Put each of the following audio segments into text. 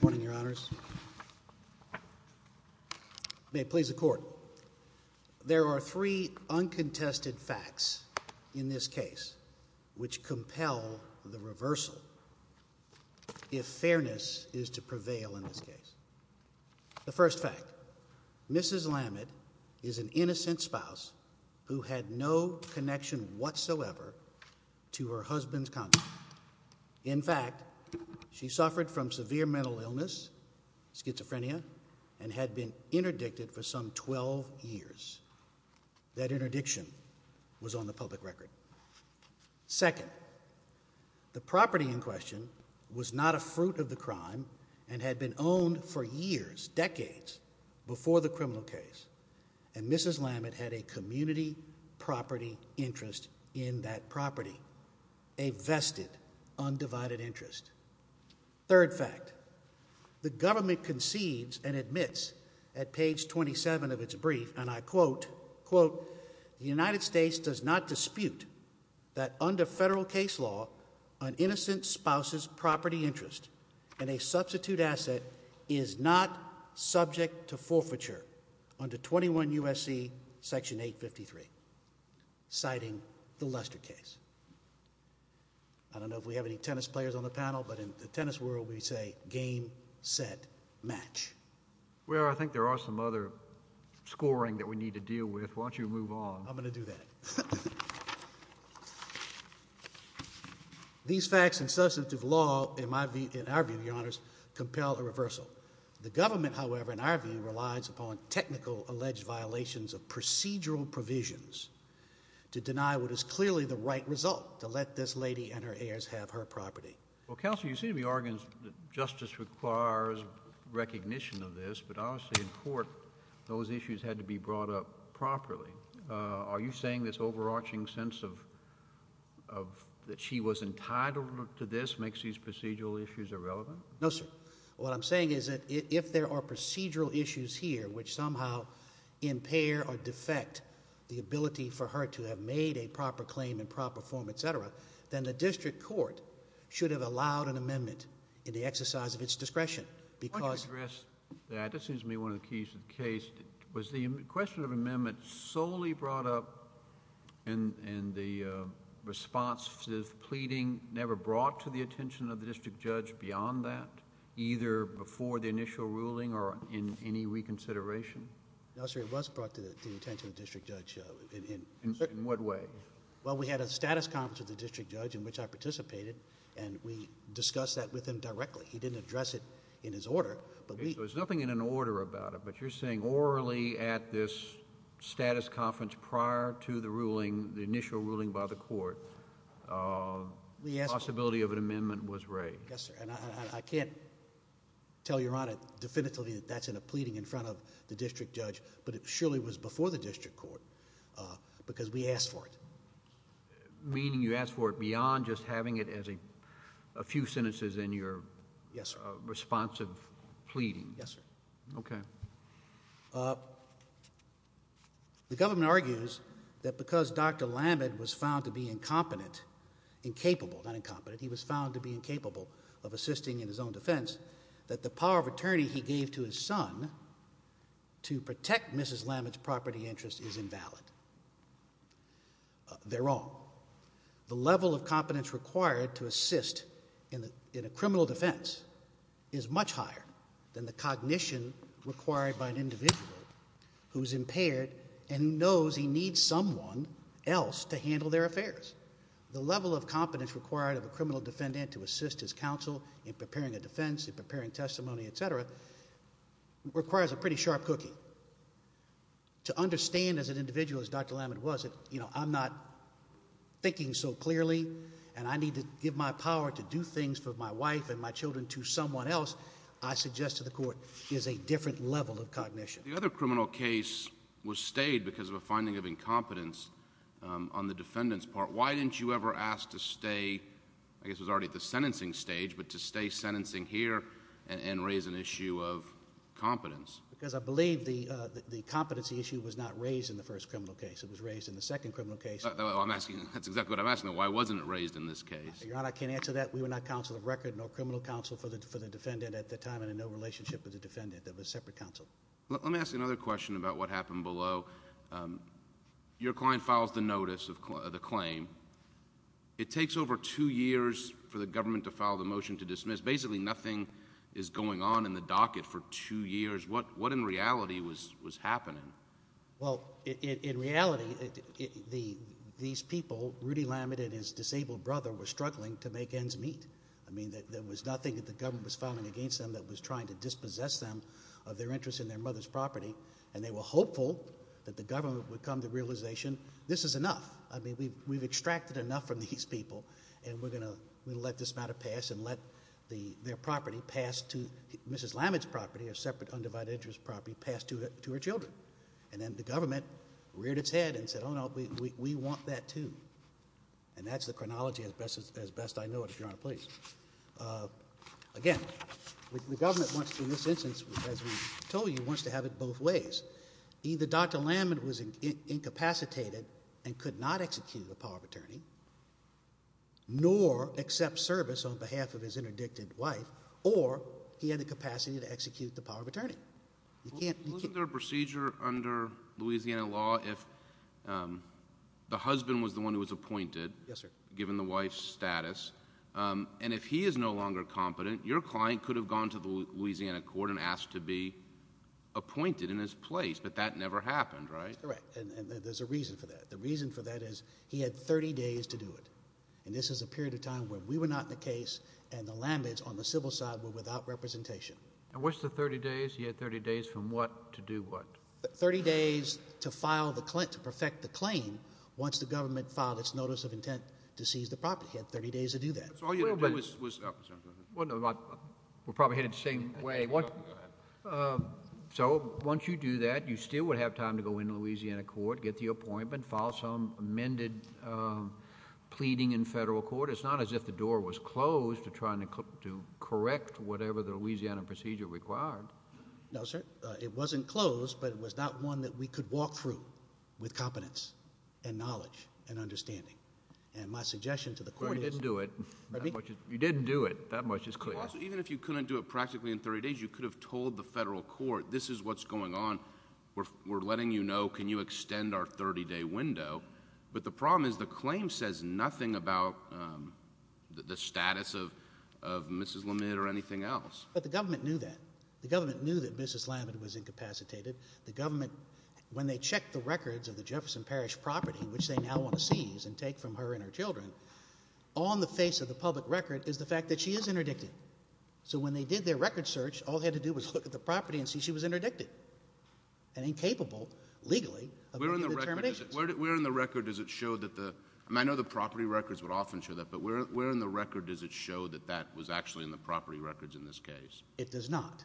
Morning, your honors. May it please the court. There are three uncontested facts in this case which compel the reversal, if fairness is to prevail in this case. The first fact, Mrs. Lamid is an innocent spouse who had no connection whatsoever to her husband's conduct. In fact, she suffered from severe mental illness, schizophrenia, and had been interdicted for some 12 years. That interdiction was on the public record. Second, the property in question was not a fruit of the crime and had been owned for years, decades, before the criminal case. And Mrs. Lamid had a community property interest in that property, a vested undivided interest. Third fact, the government concedes and admits at page 27 of its brief, and I quote, quote, the United States does not dispute that under federal case law, an innocent spouse's property interest in a substitute asset is not subject to forfeiture under 21 U.S.C. section 853, citing the Lester case. I don't know if we have any tennis players on the panel, but in the tennis world, we say game, set, match. Well, I think there are some other scoring that we need to deal with. Why don't you move on? I'm going to do that. These facts and substantive law, in my view, in our view, Your Honors, compel a reversal. The government, however, in our view, relies upon technical alleged violations of procedural provisions to deny what is clearly the right result, to let this lady and her heirs have her property. Well, Counselor, you seem to be arguing that justice requires recognition of this, but obviously in court, those issues had to be brought up properly. Are you saying this overarching sense of that she was entitled to this makes these procedural issues irrelevant? No, sir. What I'm saying is that if there are procedural issues here which somehow impair or defect the ability for her to have made a proper claim in proper form, etc., then the district court should have been more aware about it, but you're saying orally at this status conference prior to the ruling, the initial ruling by the court, the possibility of an amendment was raised. Yes, sir, and I can't tell Your Honor definitively that that's in a pleading in front of the district judge, but it surely was before the district court because we asked for it. Meaning you asked for it beyond just having it as a few sentences in your... Yes, sir.... responsive pleading. Yes, sir. Okay. The government argues that because Dr. Lammed was found to be incompetent, incapable, not incompetent, he was found to be incapable of assisting in his own defense, that the power of attorney he gave to his son to protect Mrs. Lammed's property interest is invalid. They're wrong. The level of competence required to assist in a criminal defense is much higher than the cognition required by an individual who's impaired and knows he needs someone else to handle their affairs. The level of competence required of a criminal defendant to assist his counsel in preparing a defense, in preparing testimony, etc., requires a pretty sharp cookie. To understand as an individual as Dr. Lammed was, you know, I'm not thinking so clearly and I need to give my power to do things for my wife and my children to someone else, I suggest to the court, is a different level of cognition. The other criminal case was stayed because of a finding of incompetence on the defendant's part. Why didn't you ever ask to stay, I guess it was already at the sentencing stage, but to stay sentencing here and raise an issue of competence? Because I believe the competency issue was not raised in the first criminal case. It was raised in the second criminal case. I'm asking... that's exactly what I'm asking. Why wasn't it raised in this case? Your Honor, I can't answer that. We were not counsel of record, no criminal counsel for the defendant at the time and in no relationship with the defendant. It was separate counsel. Let me ask you another question about what happened below. Your client files the notice of the claim. It takes over two years for the government to file the motion to dismiss. Basically nothing is going on in the docket for two years. What in reality was happening? Well, in reality, these people, Rudy Lammed and his disabled brother, were struggling to make ends meet. I mean, there was nothing that the government was filing against them that was trying to dispossess them of their interest in their mother's property, and they were hopeful that the government would come to the realization, this is enough. I mean, we've extracted enough from these people, and we're going to let this matter pass and let their property pass to... Mrs. Lammed's property, a separate undivided interest property, pass to her children. And then the government reared its head and said, oh no, we want that too. And that's the chronology as best I know it, Your Honor, please. Again, the government wants to, in this instance, as we told you, wants to have it both ways. Either Dr. Lammed was incapacitated and could not execute the power of attorney, nor accept service on behalf of his interdicted wife, or he had the capacity to execute the power of attorney. Isn't there a procedure under Louisiana law if the husband was the one who was appointed, given the wife's status, and if he is no longer competent, your client could have gone to the Louisiana court and asked to be appointed in his place, but that never happened, right? Correct. And there's a reason for that. The reason for that is he had 30 days to do it. And this is a period of time where we were not in the case, and the Lammeds on the civil side were without representation. And what's the 30 days? He had 30 days from what to do what? 30 days to perfect the claim once the government filed its notice of intent to seize the property. He had 30 days to do that. So all you had to do was... We're probably headed the same way. So once you do that, you still would have time to go into Louisiana court, get the appointment, file some amended pleading in federal court. It's not as if the door was closed to try to correct whatever the Louisiana procedure required. No, sir. It wasn't closed, but it was not one that we could walk through with competence and knowledge and understanding. And my suggestion to the court is... Well, you didn't do it. Pardon me? You didn't do it. That much is clear. Also, even if you couldn't do it practically in 30 days, you could have told the federal court, this is what's going on. We're letting you know, can you extend our 30-day window? But the problem is, the claim says nothing about the status of Mrs. Lamid or anything else. But the government knew that. The government knew that Mrs. Lamid was incapacitated. The government, when they checked the records of the Jefferson Parish property, which they now want to seize and take from her and her children, on the face of the public record is the fact that she is interdicted. So when they did their record search, all they had to do was look at the property and see she was interdicted and incapable, legally, of making determinations. Where in the record does it show that the... I mean, I know the property records would often show that, but where in the record does it show that that was actually in the property records in this case? It does not.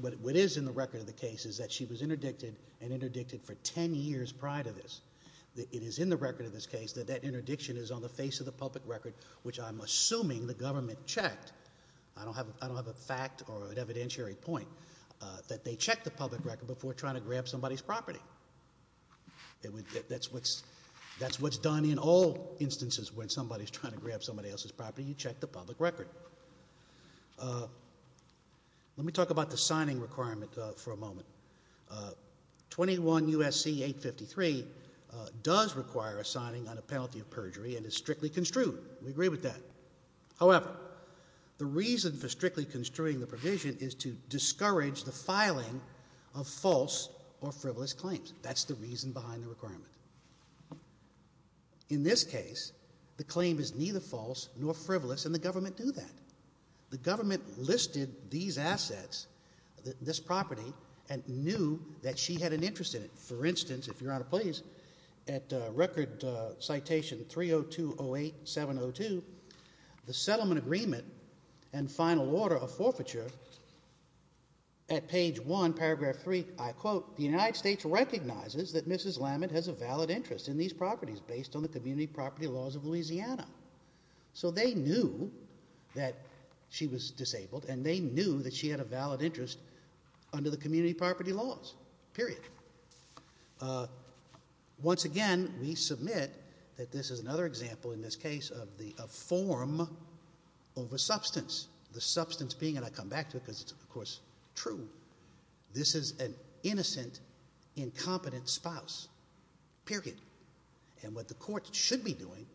What is in the record of the case is that she was interdicted and interdicted for 10 years prior to this. It is in the record of this case that that interdiction is on the face of the public record, which I'm assuming the government checked. I don't have a fact or an evidentiary point that they checked the public record before trying to grab somebody's property. That's what's done in all instances when somebody's trying to grab somebody else's property. You check the public record. Let me talk about the signing requirement for a moment. 21 U.S.C. 853 does require a signing on a penalty of perjury and is strictly construed. We agree with that. However, the filing of false or frivolous claims, that's the reason behind the requirement. In this case, the claim is neither false nor frivolous, and the government knew that. The government listed these assets, this property, and knew that she had an interest in it. For instance, if Your Honor, please, at record citation 30208702, the settlement agreement and final order of forfeiture at page 1, paragraph 3, I quote, the United States recognizes that Mrs. Lammett has a valid interest in these properties based on the community property laws of Louisiana. They knew that she was disabled, and they knew that she had a valid interest under the community property laws, period. Once again, we submit that this is a form over substance. The substance being, and I come back to it because it's, of course, true, this is an innocent, incompetent spouse, period. What the court should be doing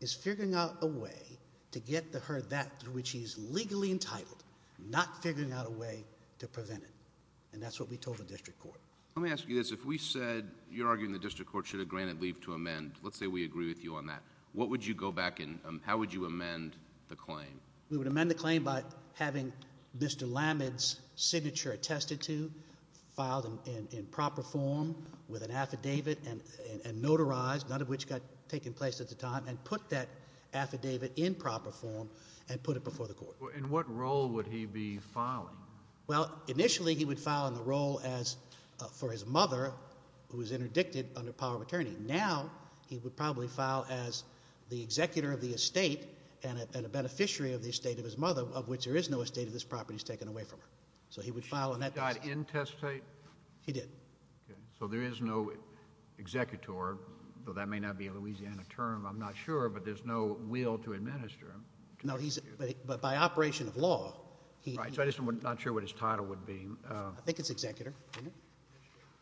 is figuring out a way to get her that through which she is legally entitled, not figuring out a way to prevent it. That's what we told the district court. Let me ask you this. If we said, you're arguing the district court should have granted leave to amend, let's say we agree with you on that, what would you go back and how would you amend the claim? We would amend the claim by having Mr. Lammett's signature attested to, filed in proper form with an affidavit and notarized, none of which got taken place at the time, and put that affidavit in proper form and put it before the court. In what role would he be filing? Well, initially, he would file in the role as, for his mother, who was interdicted under the power of attorney. Now, he would probably file as the executor of the estate and a beneficiary of the estate of his mother, of which there is no estate of this property that's taken away from her. So he would file on that basis. He died intestate? He did. Okay. So there is no executor, though that may not be a Louisiana term, I'm not sure, but there's no will to administer him. No, he's, but by operation of law, he Right, so I'm just not sure what his title would be. I think it's executor.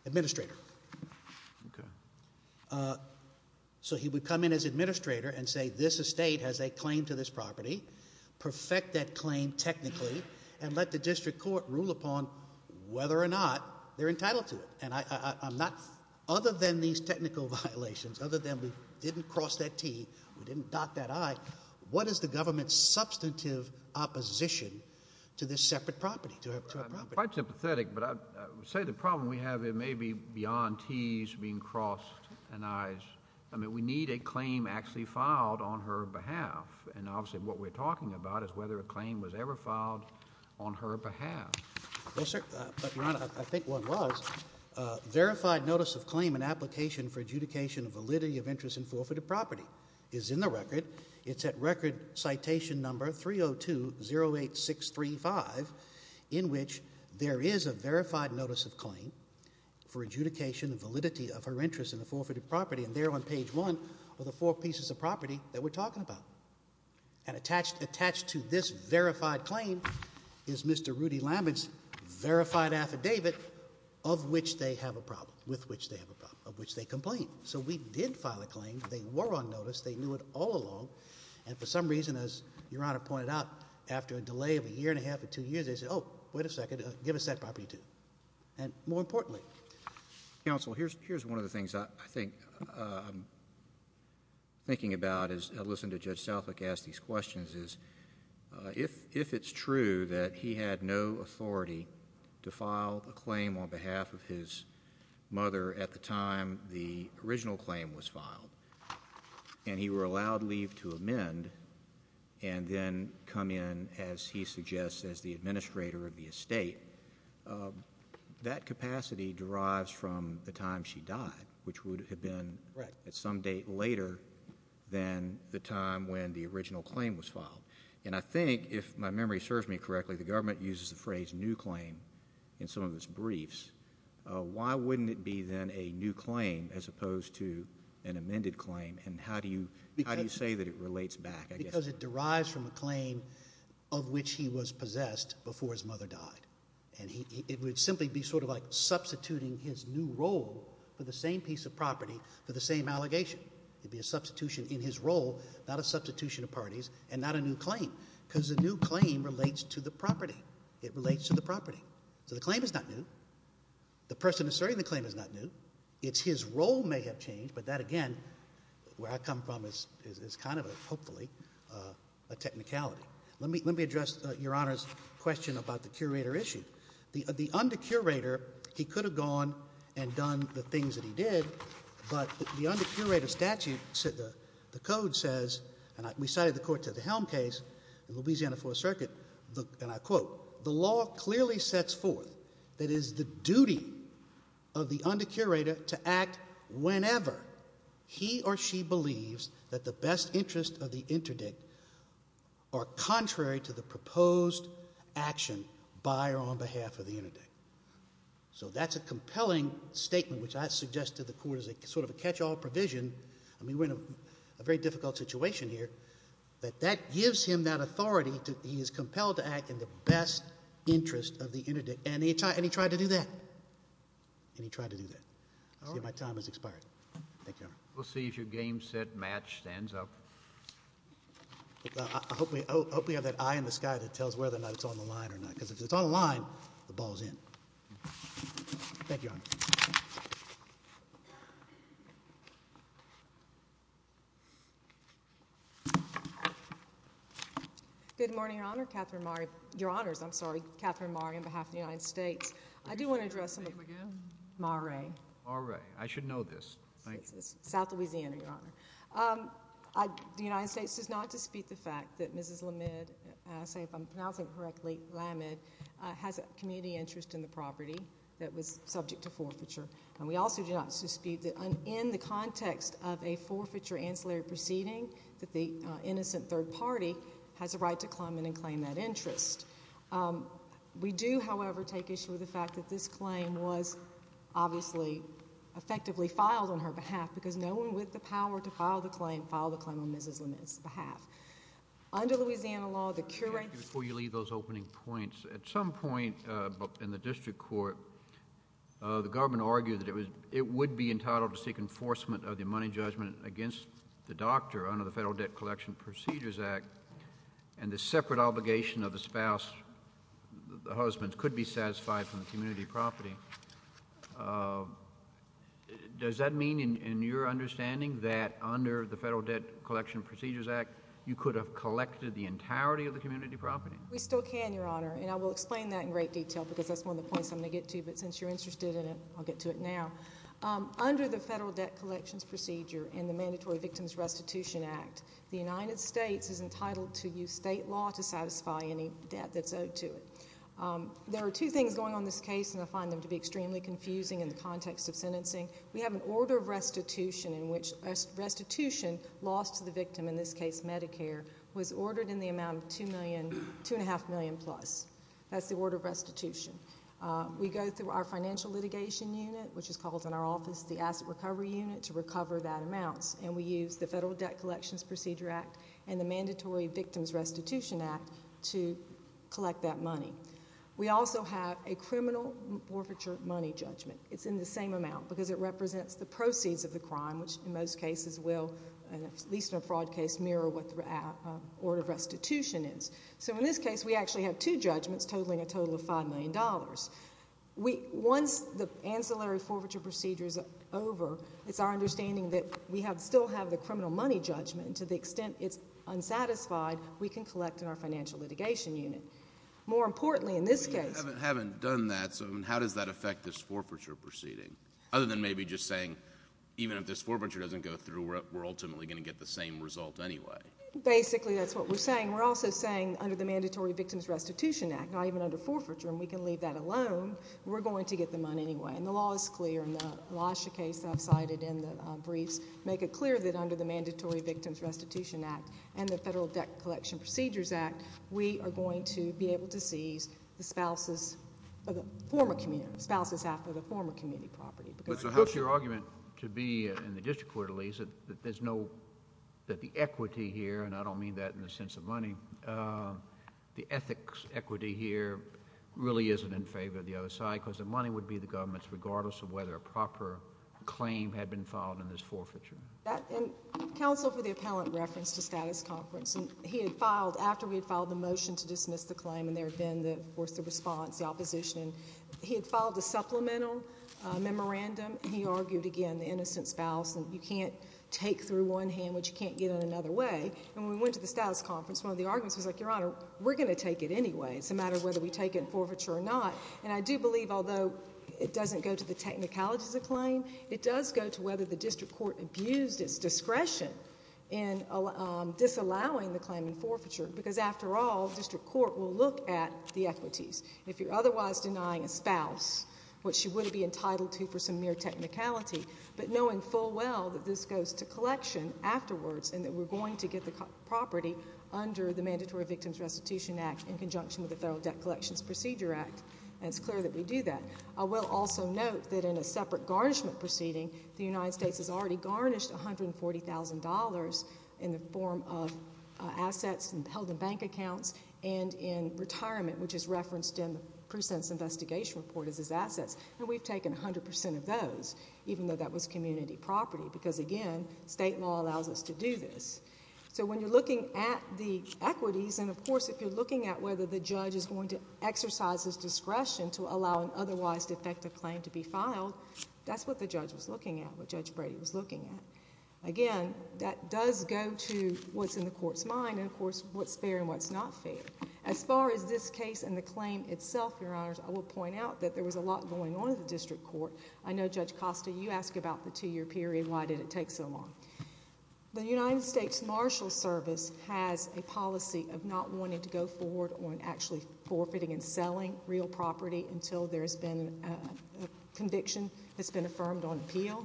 Administrator. Administrator. Okay. So he would come in as administrator and say, this estate has a claim to this property, perfect that claim technically, and let the district court rule upon whether or not they're entitled to it. And I'm not, other than these technical violations, other than we didn't cross that T, we didn't dot that I, what is the government's substantive opposition to this separate property, to her property? Quite sympathetic, but I would say the problem we have, it may be beyond T's being crossed and I's. I mean, we need a claim actually filed on her behalf. And obviously what we're talking about is whether a claim was ever filed on her behalf. No, sir. But, Your Honor, I think one was. Verified notice of claim and application for adjudication of validity of interest in forfeited property is in the record. It's at record citation number 3 0 2 0 8 6 3 5, in which there is a verified notice of claim for adjudication of validity of her interest in the forfeited property. And there on page one of the four pieces of property that we're talking about and attached, attached to this verified claim is Mr. Rudy Lambert's verified affidavit of which they have a problem with which they have a problem of which they complain. So we did file a claim. They were on notice. They knew it all along. And for some reason, as Your Honor pointed out, after a delay of a year and a half or two years, they said, Oh, wait a second. Give us that property too. And more importantly, counsel, here's here's one of the things I think I'm thinking about is listen to Judge Southwick ask these questions is if if it's true that he had no authority to file a claim on behalf of his mother at the time the original claim was filed and he were allowed leave to amend and then come in, as he suggests, as the administrator of the estate, that capacity derives from the time she died, which would have been at some date later than the time when the original claim was filed. And I think if my memory serves me correctly, the government uses the phrase new claim in some of its briefs. Why wouldn't it be then a new claim as opposed to an amended claim? And how do you how do you say that it relates back? Because it derives from a claim of which he was possessed before his mother died. And it would simply be sort of like substituting his new role for the same piece of property for the same allegation. It'd be a substitution in his role, not a substitution of parties and not a new claim because a new claim relates to the property. It relates to the property. So the claim is not new. The person asserting the claim is not new. It's his role may have changed, but that again, where I come from, is kind of hopefully a technicality. Let me address Your Honor's question about the curator issue. The undercurator, he could have gone and done the things that he did, but the undercurator statute, the code says, and we cited the Court to the Helm case in Louisiana Fourth Circuit, and I quote, the law clearly sets forth that it is the duty of the undercurator to act whenever he or she believes that the best interest of the interdict are contrary to the proposed action by or on behalf of the interdict. So that's a compelling statement which I suggest to the Court as a sort of a catch-all provision. I mean, we're in a very difficult situation here, but that gives him that authority. He is compelled to act in the best interest of the interdict, and he tried to do that. And he tried to do that. See, my time has expired. Thank you, Your Honor. We'll see if your game, set, match stands up. I hope we have that eye in the sky that tells whether or not it's on the line or not, because if it's on the line, the ball's in. Thank you, Your Honor. Good morning, Your Honor. Catherine Mare. Your Honors, I'm sorry. Catherine Mare on behalf of the United States. I do want to address... Can you say your name again? Mare. Mare. I should know this. Thank you. South Louisiana, Your Honor. The United States does not dispute the fact that Mrs. Lamed, if I'm pronouncing it correctly, Lamed, has a community interest in the property that was subject to forfeiture. And we also do not dispute that in the context of a forfeiture ancillary proceeding, that the innocent third party has a right to come in and claim that interest. We do, however, take issue with the fact that this claim was obviously effectively filed on her behalf, because no one with the power to file the claim filed the claim on Mrs. Lamed's behalf. Under Louisiana law, the... Before you leave those opening points, at some point in the district court, the government argued that it would be entitled to seek enforcement of the money judgment against the doctor under the Federal Debt Collection Procedures Act, and the separate obligation of the spouse, the husband, could be satisfied from the community property. Does that mean in your understanding that under the Federal Debt Collection Procedures Act, you could have collected the entirety of the community property? We still can, Your Honor, and I will explain that in great detail, because that's one of the points I'm going to get to, but since you're interested in it, I'll get to it now. Under the Federal Debt Collections Procedure and the Mandatory Victims Restitution Act, the United States is entitled to use state law to satisfy any debt that's owed to it. There are two things going on in this case, and I find them to be extremely confusing in the context of sentencing. We have an order of restitution in which restitution lost to the victim, in this case Medicare, was ordered in the amount of $2.5 million-plus. That's the order of restitution. We go through our financial litigation unit, which is called in our office the Asset Recovery Unit, to recover that amount, and we use the Federal Debt Collections Procedure Act and the Mandatory Victims Restitution Act to collect that money. We also have a criminal forfeiture money judgment. It's in the same amount, because it represents the proceeds of the crime, which in most cases will, at least in a fraud case, mirror what Once the ancillary forfeiture procedure is over, it's our understanding that we still have the criminal money judgment, and to the extent it's unsatisfied, we can collect in our financial litigation unit. More importantly in this case— But you haven't done that, so how does that affect this forfeiture proceeding, other than maybe just saying, even if this forfeiture doesn't go through, we're ultimately going to get the same result anyway? Basically, that's what we're saying. We're also saying, under the Mandatory Victims Restitution Act, not even under forfeiture, and we can leave that alone, we're going to get the money anyway. And the law is clear, and the last case I've cited in the briefs make it clear that under the Mandatory Victims Restitution Act and the Federal Debt Collection Procedures Act, we are going to be able to seize the spouses of the former community, spouses after the former community property. But so how's your argument to be, in the district court at least, that there's no—that the ethics equity here really isn't in favor of the other side, because the money would be the government's, regardless of whether a proper claim had been filed in this forfeiture? And counsel, for the appellant reference to status conference, and he had filed, after we had filed the motion to dismiss the claim, and there had been, of course, the response, the opposition, he had filed a supplemental memorandum. He argued, again, the innocent spouse, and you can't take through one hand what you can't get in another way. And when we went to the status conference, one of the arguments was like, Your Honor, we're going to take it anyway. It's a matter of whether we take it in forfeiture or not. And I do believe, although it doesn't go to the technicalities of the claim, it does go to whether the district court abused its discretion in disallowing the claim in forfeiture, because after all, district court will look at the equities. If you're otherwise denying a spouse what she would be entitled to for some mere technicality, but knowing full well that this goes to collection afterwards, and that we're going to get the property under the Mandatory Victims Restitution Act in conjunction with the Federal Debt Collections Procedure Act, and it's clear that we do that. I will also note that in a separate garnishment proceeding, the United States has already garnished $140,000 in the form of assets held in bank accounts and in retirement, which is referenced in the pre-sentence investigation report as its assets. And we've taken 100 percent of those, even though that was community property, because again, state law allows us to do this. So when you're looking at the equities, and of course, if you're looking at whether the judge is going to exercise his discretion to allow an otherwise defective claim to be filed, that's what the judge was looking at, what Judge Brady was looking at. Again, that does go to what's in the court's mind, and of course, what's fair and what's not fair. As far as this case and the claim itself, Your Honors, I will point out that there was a lot going on in the district court. I know, Judge Costa, you asked about the two-year period. Why did it take so long? The United States Marshal Service has a policy of not wanting to go forward on actually forfeiting and selling real property until there's been a conviction that's been affirmed on appeal.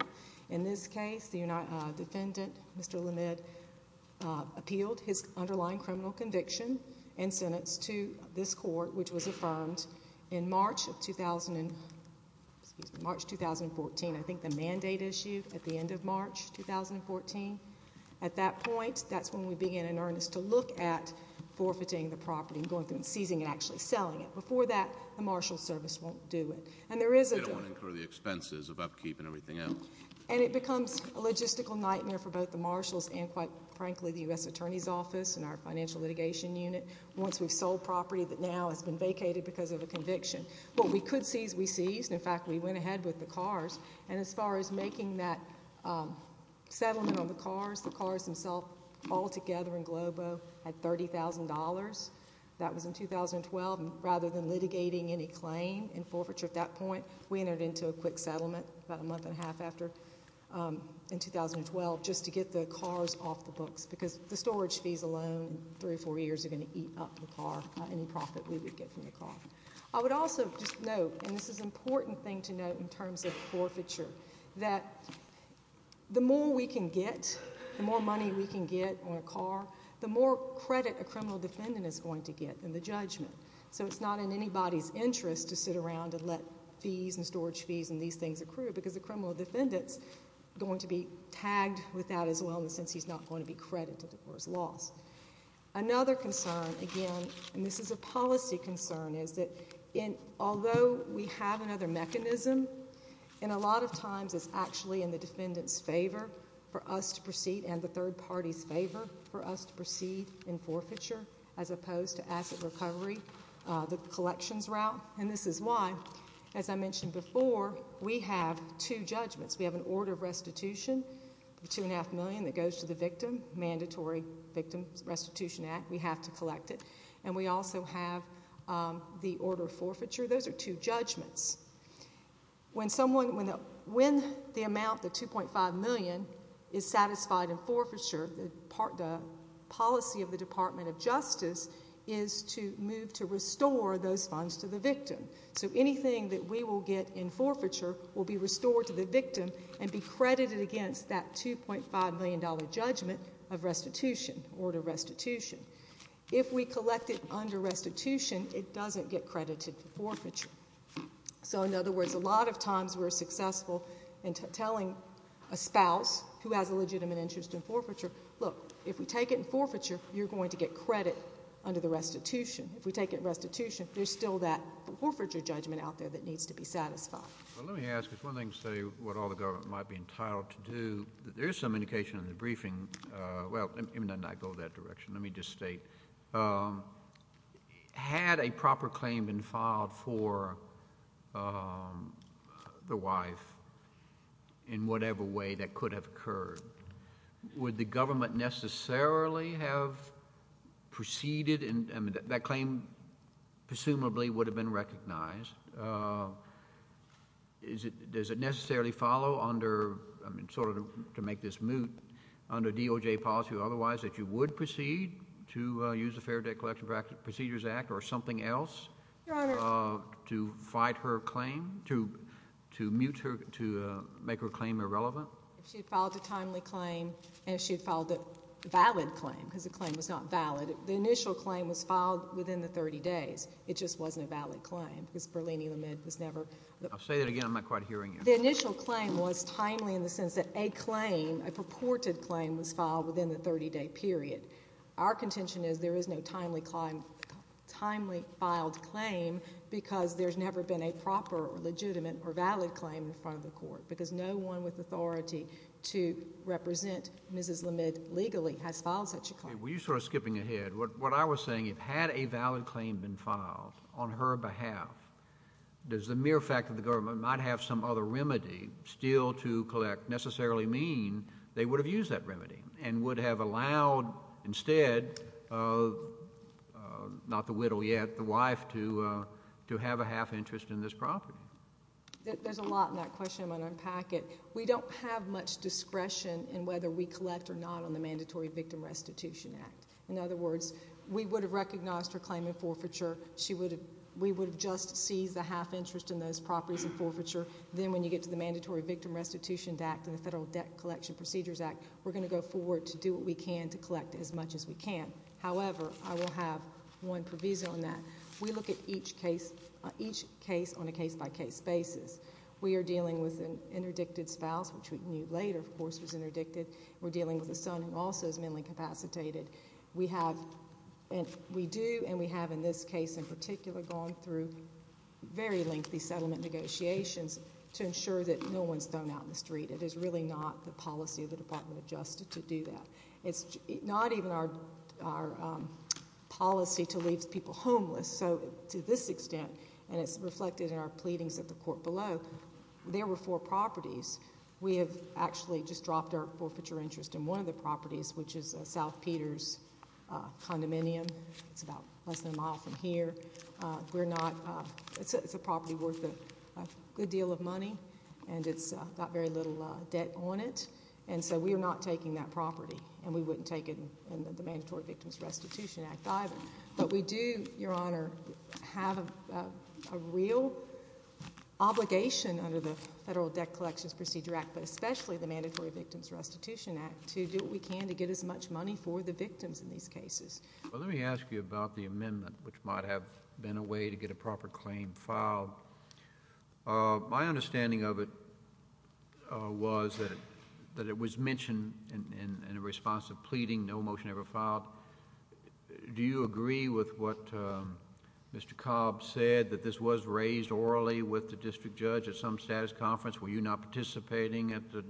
In this case, the defendant, Mr. LeMid, appealed his underlying criminal conviction and sentence to this court, which was affirmed in March 2014. I think the mandate issued at the end of March 2014. At that point, that's when we began in earnest to look at forfeiting the property and going through and seizing and actually selling it. Before that, the Marshal Service won't do it. And there is a... They don't incur the expenses of upkeep and everything else. And it becomes a logistical nightmare for both the Marshals and, quite frankly, the Financial Litigation Unit once we've sold property that now has been vacated because of a conviction. What we could seize, we seized. In fact, we went ahead with the cars. And as far as making that settlement on the cars, the cars themselves altogether in Globo had $30,000. That was in 2012. And rather than litigating any claim in forfeiture at that point, we entered into a quick settlement about a month and a half after in 2012 just to get the cars off the books because the storage fees alone in three or four years are going to eat up the car, any profit we would get from the car. I would also just note, and this is an important thing to note in terms of forfeiture, that the more we can get, the more money we can get on a car, the more credit a criminal defendant is going to get in the judgment. So it's not in anybody's interest to sit around and let fees and storage fees and these things accrue because the criminal defendant is going to be tagged with that as well in the sense he's not going to be credited for his loss. Another concern, again, and this is a policy concern, is that although we have another mechanism, and a lot of times it's actually in the defendant's favor for us to proceed and the third party's favor for us to proceed in forfeiture as opposed to asset recovery, the collections route. And this is why, as I mentioned before, we have two judgments. We have an order of restitution, $2.5 million that goes to the victim, Mandatory Victim Restitution Act. We have to collect it. And we also have the order of forfeiture. Those are two judgments. When the amount, the $2.5 million, is satisfied in forfeiture, the policy of the Department of Justice is to move to restore those funds to the victim. So anything that we will get in forfeiture will be restored to the victim and be credited against that $2.5 million judgment of restitution, order of restitution. If we collect it under restitution, it doesn't get credited for forfeiture. So in other words, a lot of times we're successful in telling a spouse who has a legitimate interest in forfeiture, look, if we take it in forfeiture, you're going to get credit under the restitution. If we take it in restitution, there's still that forfeiture judgment out there that needs to be satisfied. Well, let me ask. It's one thing to say what all the government might be entitled to do. There is some indication in the briefing, well, and I go that direction, let me just state, had a proper claim been filed for the wife in whatever way that could have occurred, would the government necessarily have proceeded, I mean, that claim presumably would have been recognized. Does it necessarily follow under, I mean, sort of to make this moot, under DOJ policy or otherwise that you would proceed to use the Fair Debt Collection Procedures Act or something else to fight her claim, to mute her, to make her claim irrelevant? Well, if she had filed a timely claim and if she had filed a valid claim, because the claim was not valid, the initial claim was filed within the 30 days. It just wasn't a valid claim, because Berlini-Lemid was never... I'll say that again. I'm not quite hearing you. The initial claim was timely in the sense that a claim, a purported claim, was filed within the 30-day period. Our contention is there is no timely filed claim because there's never been a proper or legitimate or valid claim in front of the court, because no one with authority to represent Mrs. Lemid legally has filed such a claim. Were you sort of skipping ahead? What I was saying, had a valid claim been filed on her behalf, does the mere fact that the government might have some other remedy still to collect necessarily mean they would have used that remedy and would have allowed instead, not the widow yet, the wife to have a half interest in this property? There's a lot in that question. I'm going to unpack it. We don't have much discretion in whether we collect or not on the Mandatory Victim Restitution Act. In other words, we would have recognized her claim in forfeiture. We would have just seized the half interest in those properties in forfeiture. Then when you get to the Mandatory Victim Restitution Act and the Federal Debt Collection Procedures Act, we're going to go forward to do what we can to collect as much as we can. However, I will have one provision on that. We look at each case on a case-by-case basis. We are dealing with an interdicted spouse, which we knew later, of course, was interdicted. We're dealing with a son who also is manly capacitated. We do, and we have in this case in particular, gone through very lengthy settlement negotiations to ensure that no one is thrown out in the street. It is really not the policy of the Department of Justice to do that. It's not even our policy to leave people homeless. So to this extent, and it's reflected in our pleadings at the court below, there were four properties. We have actually just dropped our forfeiture interest in one of the properties, which is South Peters Condominium. It's about less than a mile from here. It's a property worth a good deal of money, and it's got very little debt on it. And so we are not taking that property, and we wouldn't take it in the Mandatory Victims Restitution Act either. But we do, Your Honor, have a real obligation under the Federal Debt Collections Procedure Act, but especially the Mandatory Victims Restitution Act, to do what we can to get as much money for the victims in these cases. Well, let me ask you about the amendment, which might have been a way to get a proper claim filed. My understanding of it was that it was mentioned in a response to a pleading, no motion ever filed. Do you agree with what Mr. Cobb said, that this was raised orally with the district judge at some status conference? Were you not participating at the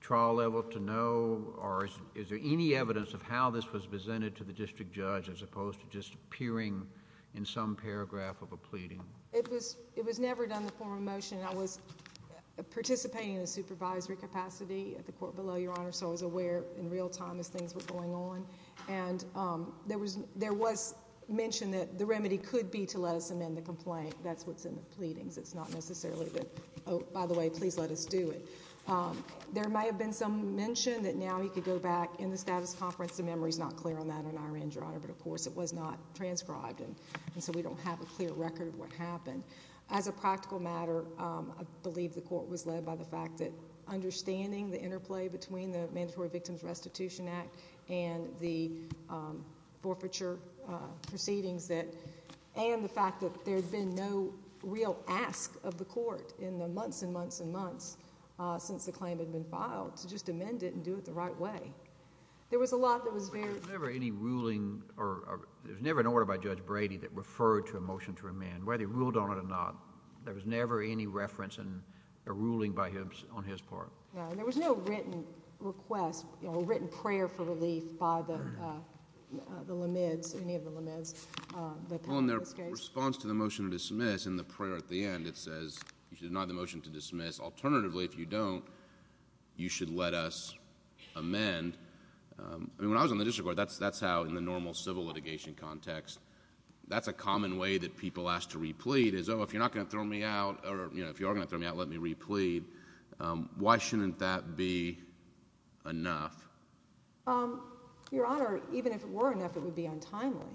trial level to know, or is there any evidence of how this was presented to the district judge as opposed to just appearing in some paragraph of a pleading? It was never done in the form of a motion. I was participating in a supervisory capacity at the court below, Your Honor, so I was aware in real time as things were going on. And there was mention that the remedy could be to let us amend the complaint. That's what's in the pleadings. It's not necessarily that, oh, by the way, please let us do it. There may have been some mention that now he could go back in the status conference. The memory is not clear on that on our end, Your Honor, but of course it was not transcribed and so we don't have a clear record of what happened. As a practical matter, I believe the court was led by the fact that understanding the interplay between the Mandatory Victims Restitution Act and the forfeiture proceedings and the fact that there had been no real ask of the court in the months and months and months since the claim had been filed to just amend the complaint, that's an important part of the case. I don't think there was any request for a request for a request for a pleading. I think the court was led by the fact that understanding the interplay between the Mandatory Victims Restitution Act and the forfeiture proceedings and the fact that there had been no real ask of the court in the months and months since the claim had been filed to just amend the complaint, that's an important part of the case. When I was on the district court, that's how, in the normal civil litigation context, that's a common way that people ask to replead is, oh, if you're not going to throw me out, or if you are going to throw me out, let me replead. Why shouldn't that be enough? Your Honor, even if it were enough, it would be untimely,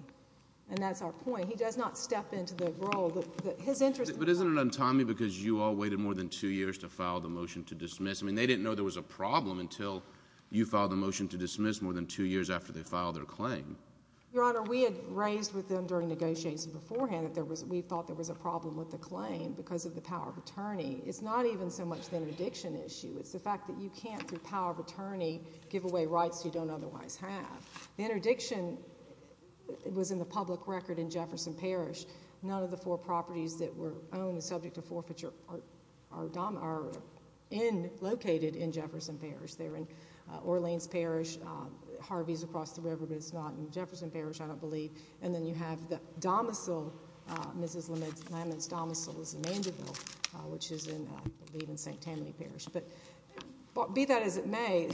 and that's our point. He does not step into the role. But isn't it untimely because you all waited more than two years to file the motion to dismiss more than two years after they filed their claim? Your Honor, we had raised with them during negotiations beforehand that we thought there was a problem with the claim because of the power of attorney. It's not even so much the interdiction issue. It's the fact that you can't, through power of attorney, give away rights you don't otherwise have. The interdiction was in the public record in Jefferson Parish. None of the four properties that were owned and subject to forfeiture are located in Jefferson Parish. They're in Orleans Parish, Harvey's across the river, but it's not in Jefferson Parish, I don't believe. And then you have the domicile, Mrs. Lamont's domicile is in Vanderbilt, which is in, I believe, in St. Tammany Parish. But be that as it may,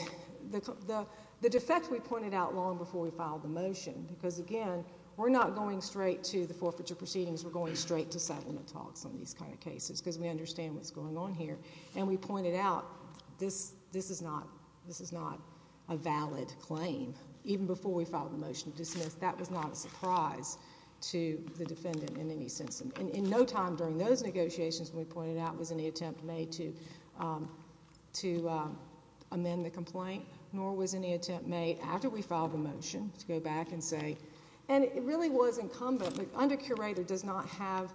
the defect we pointed out long before we filed the motion, because again, we're not going straight to the forfeiture proceedings. We're going straight to settlement talks on these kind of cases because we understand what's going on here. And we pointed out this is not a valid claim. Even before we filed the motion to dismiss, that was not a surprise to the defendant in any sense. And in no time during those negotiations, we pointed out, was any attempt made to amend the complaint, nor was any attempt made after we filed the motion to go back and say, and it really was incumbent, the under-curator does not have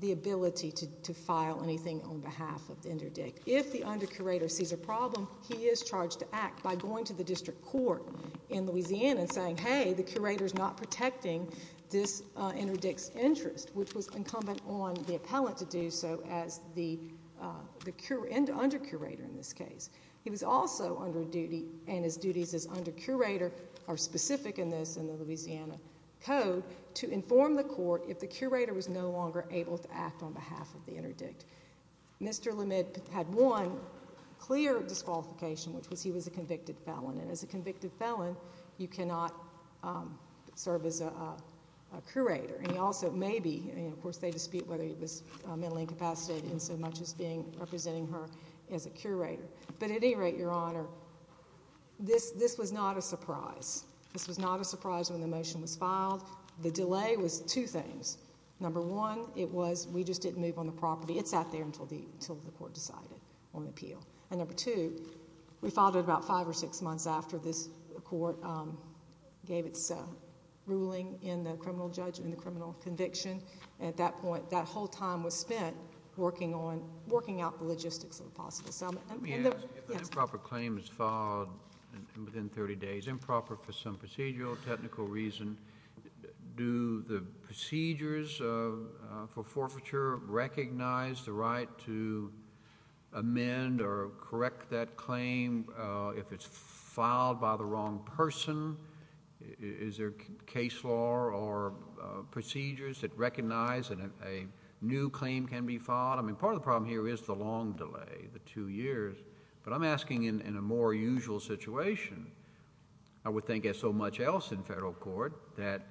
the ability to file anything on behalf of the interdict. If the under-curator sees a problem, he is charged to act by going to the district court in Louisiana and saying, hey, the curator's not protecting this interdict's interest, which was incumbent on the appellant to do so as the under-curator in this case. He was also under duty, and his duties as under-curator are specific in this, in the Louisiana Code, to inform the court if the curator was no longer able to act on behalf of the interdict. Mr. LeMid had one clear disqualification, which was he was a convicted felon. And as a convicted felon, you cannot serve as a curator. And he also may be, and of course they dispute whether he was mentally incapacitated in so much as being, representing her as a curator. But at any rate, Your Honor, this was not a surprise. This was not a surprise when the motion was filed. The delay was two things. Number one, it was, we just didn't move on the property. It sat there until the court decided on appeal. And number two, we filed it about five or six months after this court gave its ruling in the criminal judgment, and at that point, that whole time was spent working on, working out the logistics of the possible settlement. Let me ask you, if an improper claim is filed within 30 days, improper for some procedural, technical reason, do the procedures for forfeiture recognize the right to amend or correct that or do they recognize that a new claim can be filed? I mean, part of the problem here is the long delay, the two years. But I'm asking in a more usual situation, I would think as so much else in federal court, that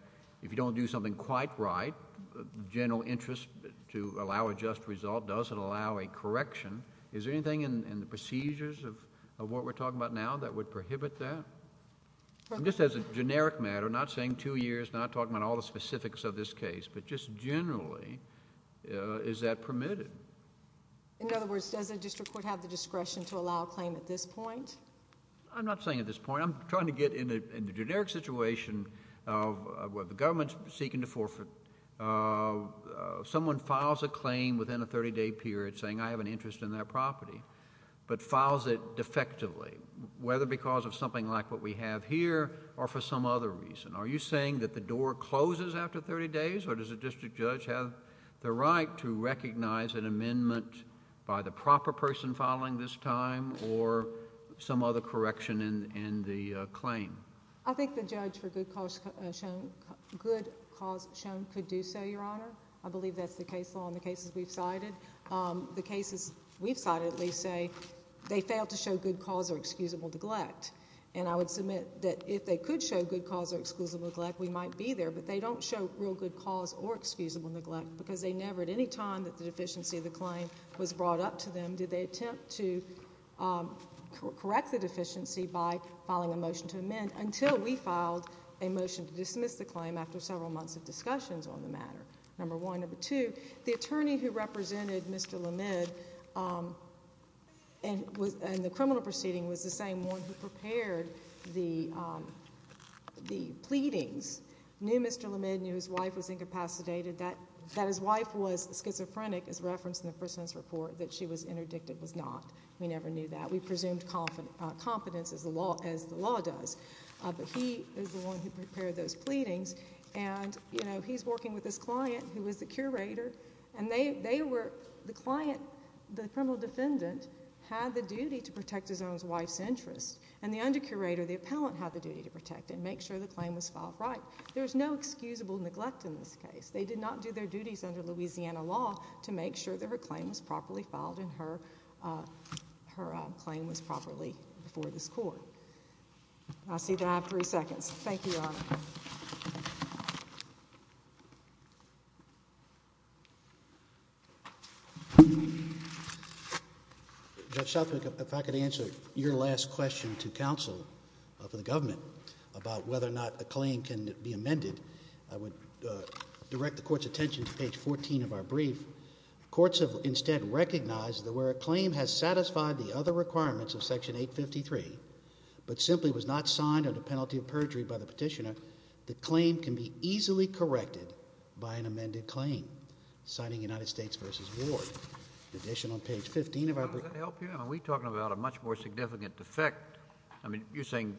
if you don't do something quite right, the general interest to allow a just result doesn't allow a correction. Is there anything in the procedures of what we're talking about now that would prohibit that? Just as a generic matter, not saying two years, not talking about all the specifics of this case, but just generally, is that permitted? In other words, does the district court have the discretion to allow a claim at this point? I'm not saying at this point. I'm trying to get in the generic situation of the government seeking to forfeit. Someone files a claim within a 30-day period saying, I have an interest in that property, but files it defectively, whether because of something like what we have here or for some other reason. Are you saying that the door closes after 30 days or does the district judge have the right to recognize an amendment by the proper person filing this time or some other correction in the claim? I think the judge for good cause shown could do so, Your Honor. I believe that's the case law in the cases we've cited. The cases we've cited at least say they fail to show good cause or excusable neglect, and I would submit that if they could show good cause or excusable neglect, we might be there, but they don't show real good cause or excusable neglect because they never, at any time that the deficiency of the claim was brought up to them, did they attempt to correct the deficiency by filing a motion to amend until we filed a motion to dismiss the claim after several months of discussions on the matter, number one. Number two, the attorney who represented Mr. Lamed and the criminal proceeding was the same one who prepared the pleadings, knew Mr. Lamed, knew his wife was incapacitated, that his wife was schizophrenic, as referenced in the First Sentence Report, that she was interdicted was not. We never knew that. We presumed confidence as the law does, but he is the one who prepared those pleadings, and he's working with this client who was the curator, and they were, the client, the criminal defendant, had the duty to protect his own wife's interests, and the undercurator, the appellant, had the duty to protect and make sure the claim was filed right. There was no excusable neglect in this case. They did not do their duties under Louisiana law to make sure that her claim was properly filed and her claim was properly before this Court. I see that I have three seconds. Thank you, Your Honor. Judge Southwick, if I could answer your last question to counsel for the government about whether or not a claim can be amended, I would direct the Court's attention to page 14 of our brief. Courts have instead recognized that where a claim has satisfied the other requirements of Section 853, but simply was not signed under penalty of perjury by the petitioner, the claim can be easily corrected by an amended claim, citing United States v. Ward. In addition, on page 15 of our brief... Does that help you? I mean, we're talking about a much more significant defect. I mean, you're saying,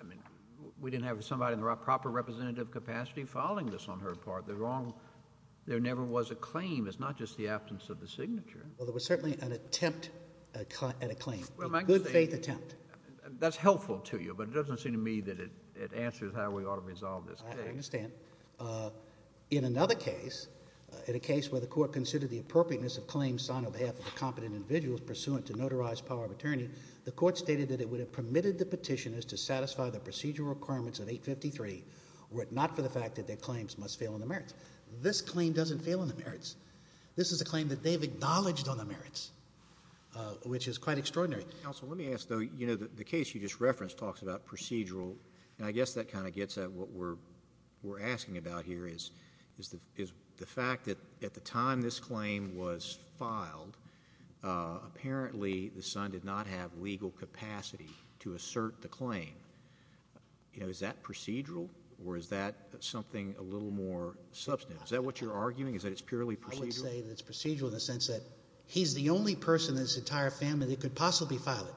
I mean, we didn't have somebody in the proper representative capacity filing this on her part. There never was a claim. It's not just the absence of the signature. Well, there was certainly an attempt at a claim, a good-faith attempt. That's helpful to you, but it doesn't seem to me that it answers how we ought to resolve this case. I understand. In another case, in a case where the Court considered the appropriateness of claims signed on behalf of a competent individual pursuant to notarized power of attorney, the Court stated that it would have permitted the petitioners to satisfy the procedural requirements of 853 were it not for the fact that their claims must fail in the merits. In fact, this claim doesn't fail in the merits. This is a claim that they've acknowledged on the merits, which is quite extraordinary. Counsel, let me ask, though, you know, the case you just referenced talks about procedural, and I guess that kind of gets at what we're asking about here, is the fact that at the time this claim was filed, apparently the son did not have legal capacity to assert the claim. You know, is that procedural, or is that something a little more substantive? Is that what you're arguing, is that it's purely procedural? I would say that it's procedural in the sense that he's the only person in his entire family that could possibly file it.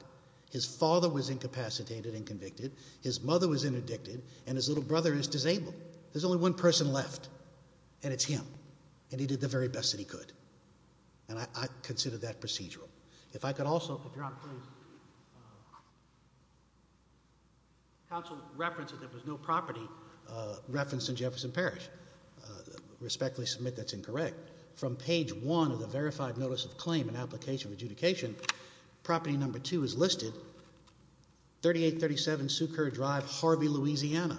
His father was incapacitated and convicted, his mother was interdicted, and his little brother is disabled. There's only one person left, and it's him, and he did the very best that he could, and I consider that procedural. If I could also, if Your Honor, please. Counsel referenced that there was no property referenced in Jefferson Parish. Respectfully submit that's incorrect. From page one of the verified notice of claim and application of adjudication, property number two is listed, 3837 Sukur Drive, Harvey, Louisiana.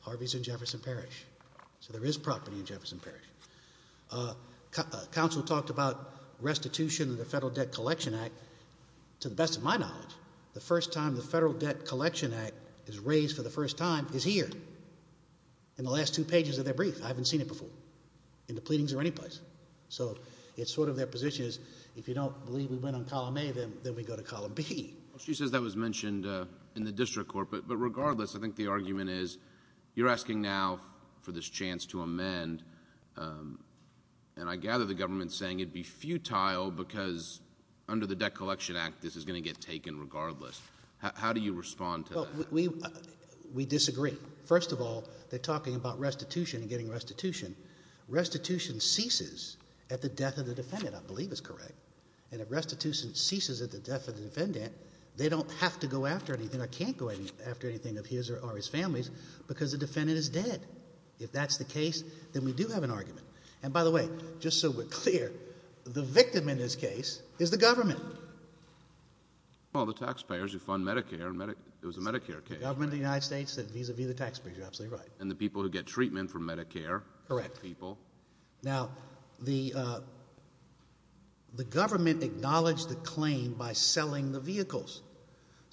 Harvey's in Jefferson Parish, so there is property in Jefferson Parish. Counsel talked about restitution of the Federal Debt Collection Act. To the best of my knowledge, the first time the Federal Debt Collection Act is raised for the first time is here, in the last two pages of their brief. I haven't seen it before, in the pleadings or any place. So it's sort of their position is, if you don't believe we went on column A, then we go to column B. She says that was mentioned in the district court, but regardless, I think the argument is, you're asking now for this chance to amend, and I gather the government is saying it would be futile because under the Debt Collection Act, this is going to get taken regardless. How do you respond to that? We disagree. First of all, they're talking about restitution and getting restitution. Restitution ceases at the death of the defendant, I believe is correct. And if restitution ceases at the death of the defendant, they don't have to go after anything. I can't go after anything of his or his family's because the defendant is dead. If that's the case, then we do have an argument. And by the way, just so we're clear, the victim in this case is the government. Well, the taxpayers who fund Medicare. It was a Medicare case, right? The government of the United States said vis-a-vis the taxpayers. You're absolutely right. And the people who get treatment from Medicare. Correct. People. Now, the government acknowledged the claim by selling the vehicles.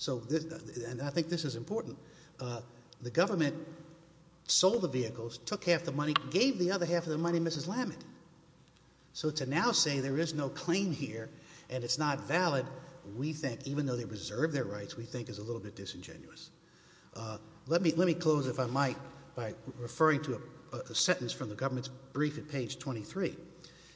And I think this is important. The government sold the vehicles, took half the money, gave the other half of the money to Mrs. Lamott. So to now say there is no claim here and it's not valid, we think, even though they reserve their rights, we think is a little bit disingenuous. Let me close, if I might, by referring to a sentence from the government's brief at page 23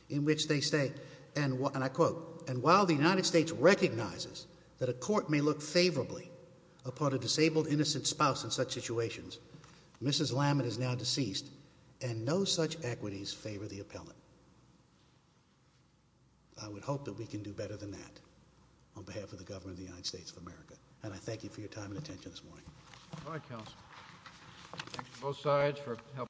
in which they say, and I quote, and while the United States recognizes that a court may look favorably upon a disabled, innocent spouse in such situations, Mrs. Lamott is now deceased and no such equities favor the appellant. I would hope that we can do better than that on behalf of the government of the United States of America. And I thank you for your time and attention this morning.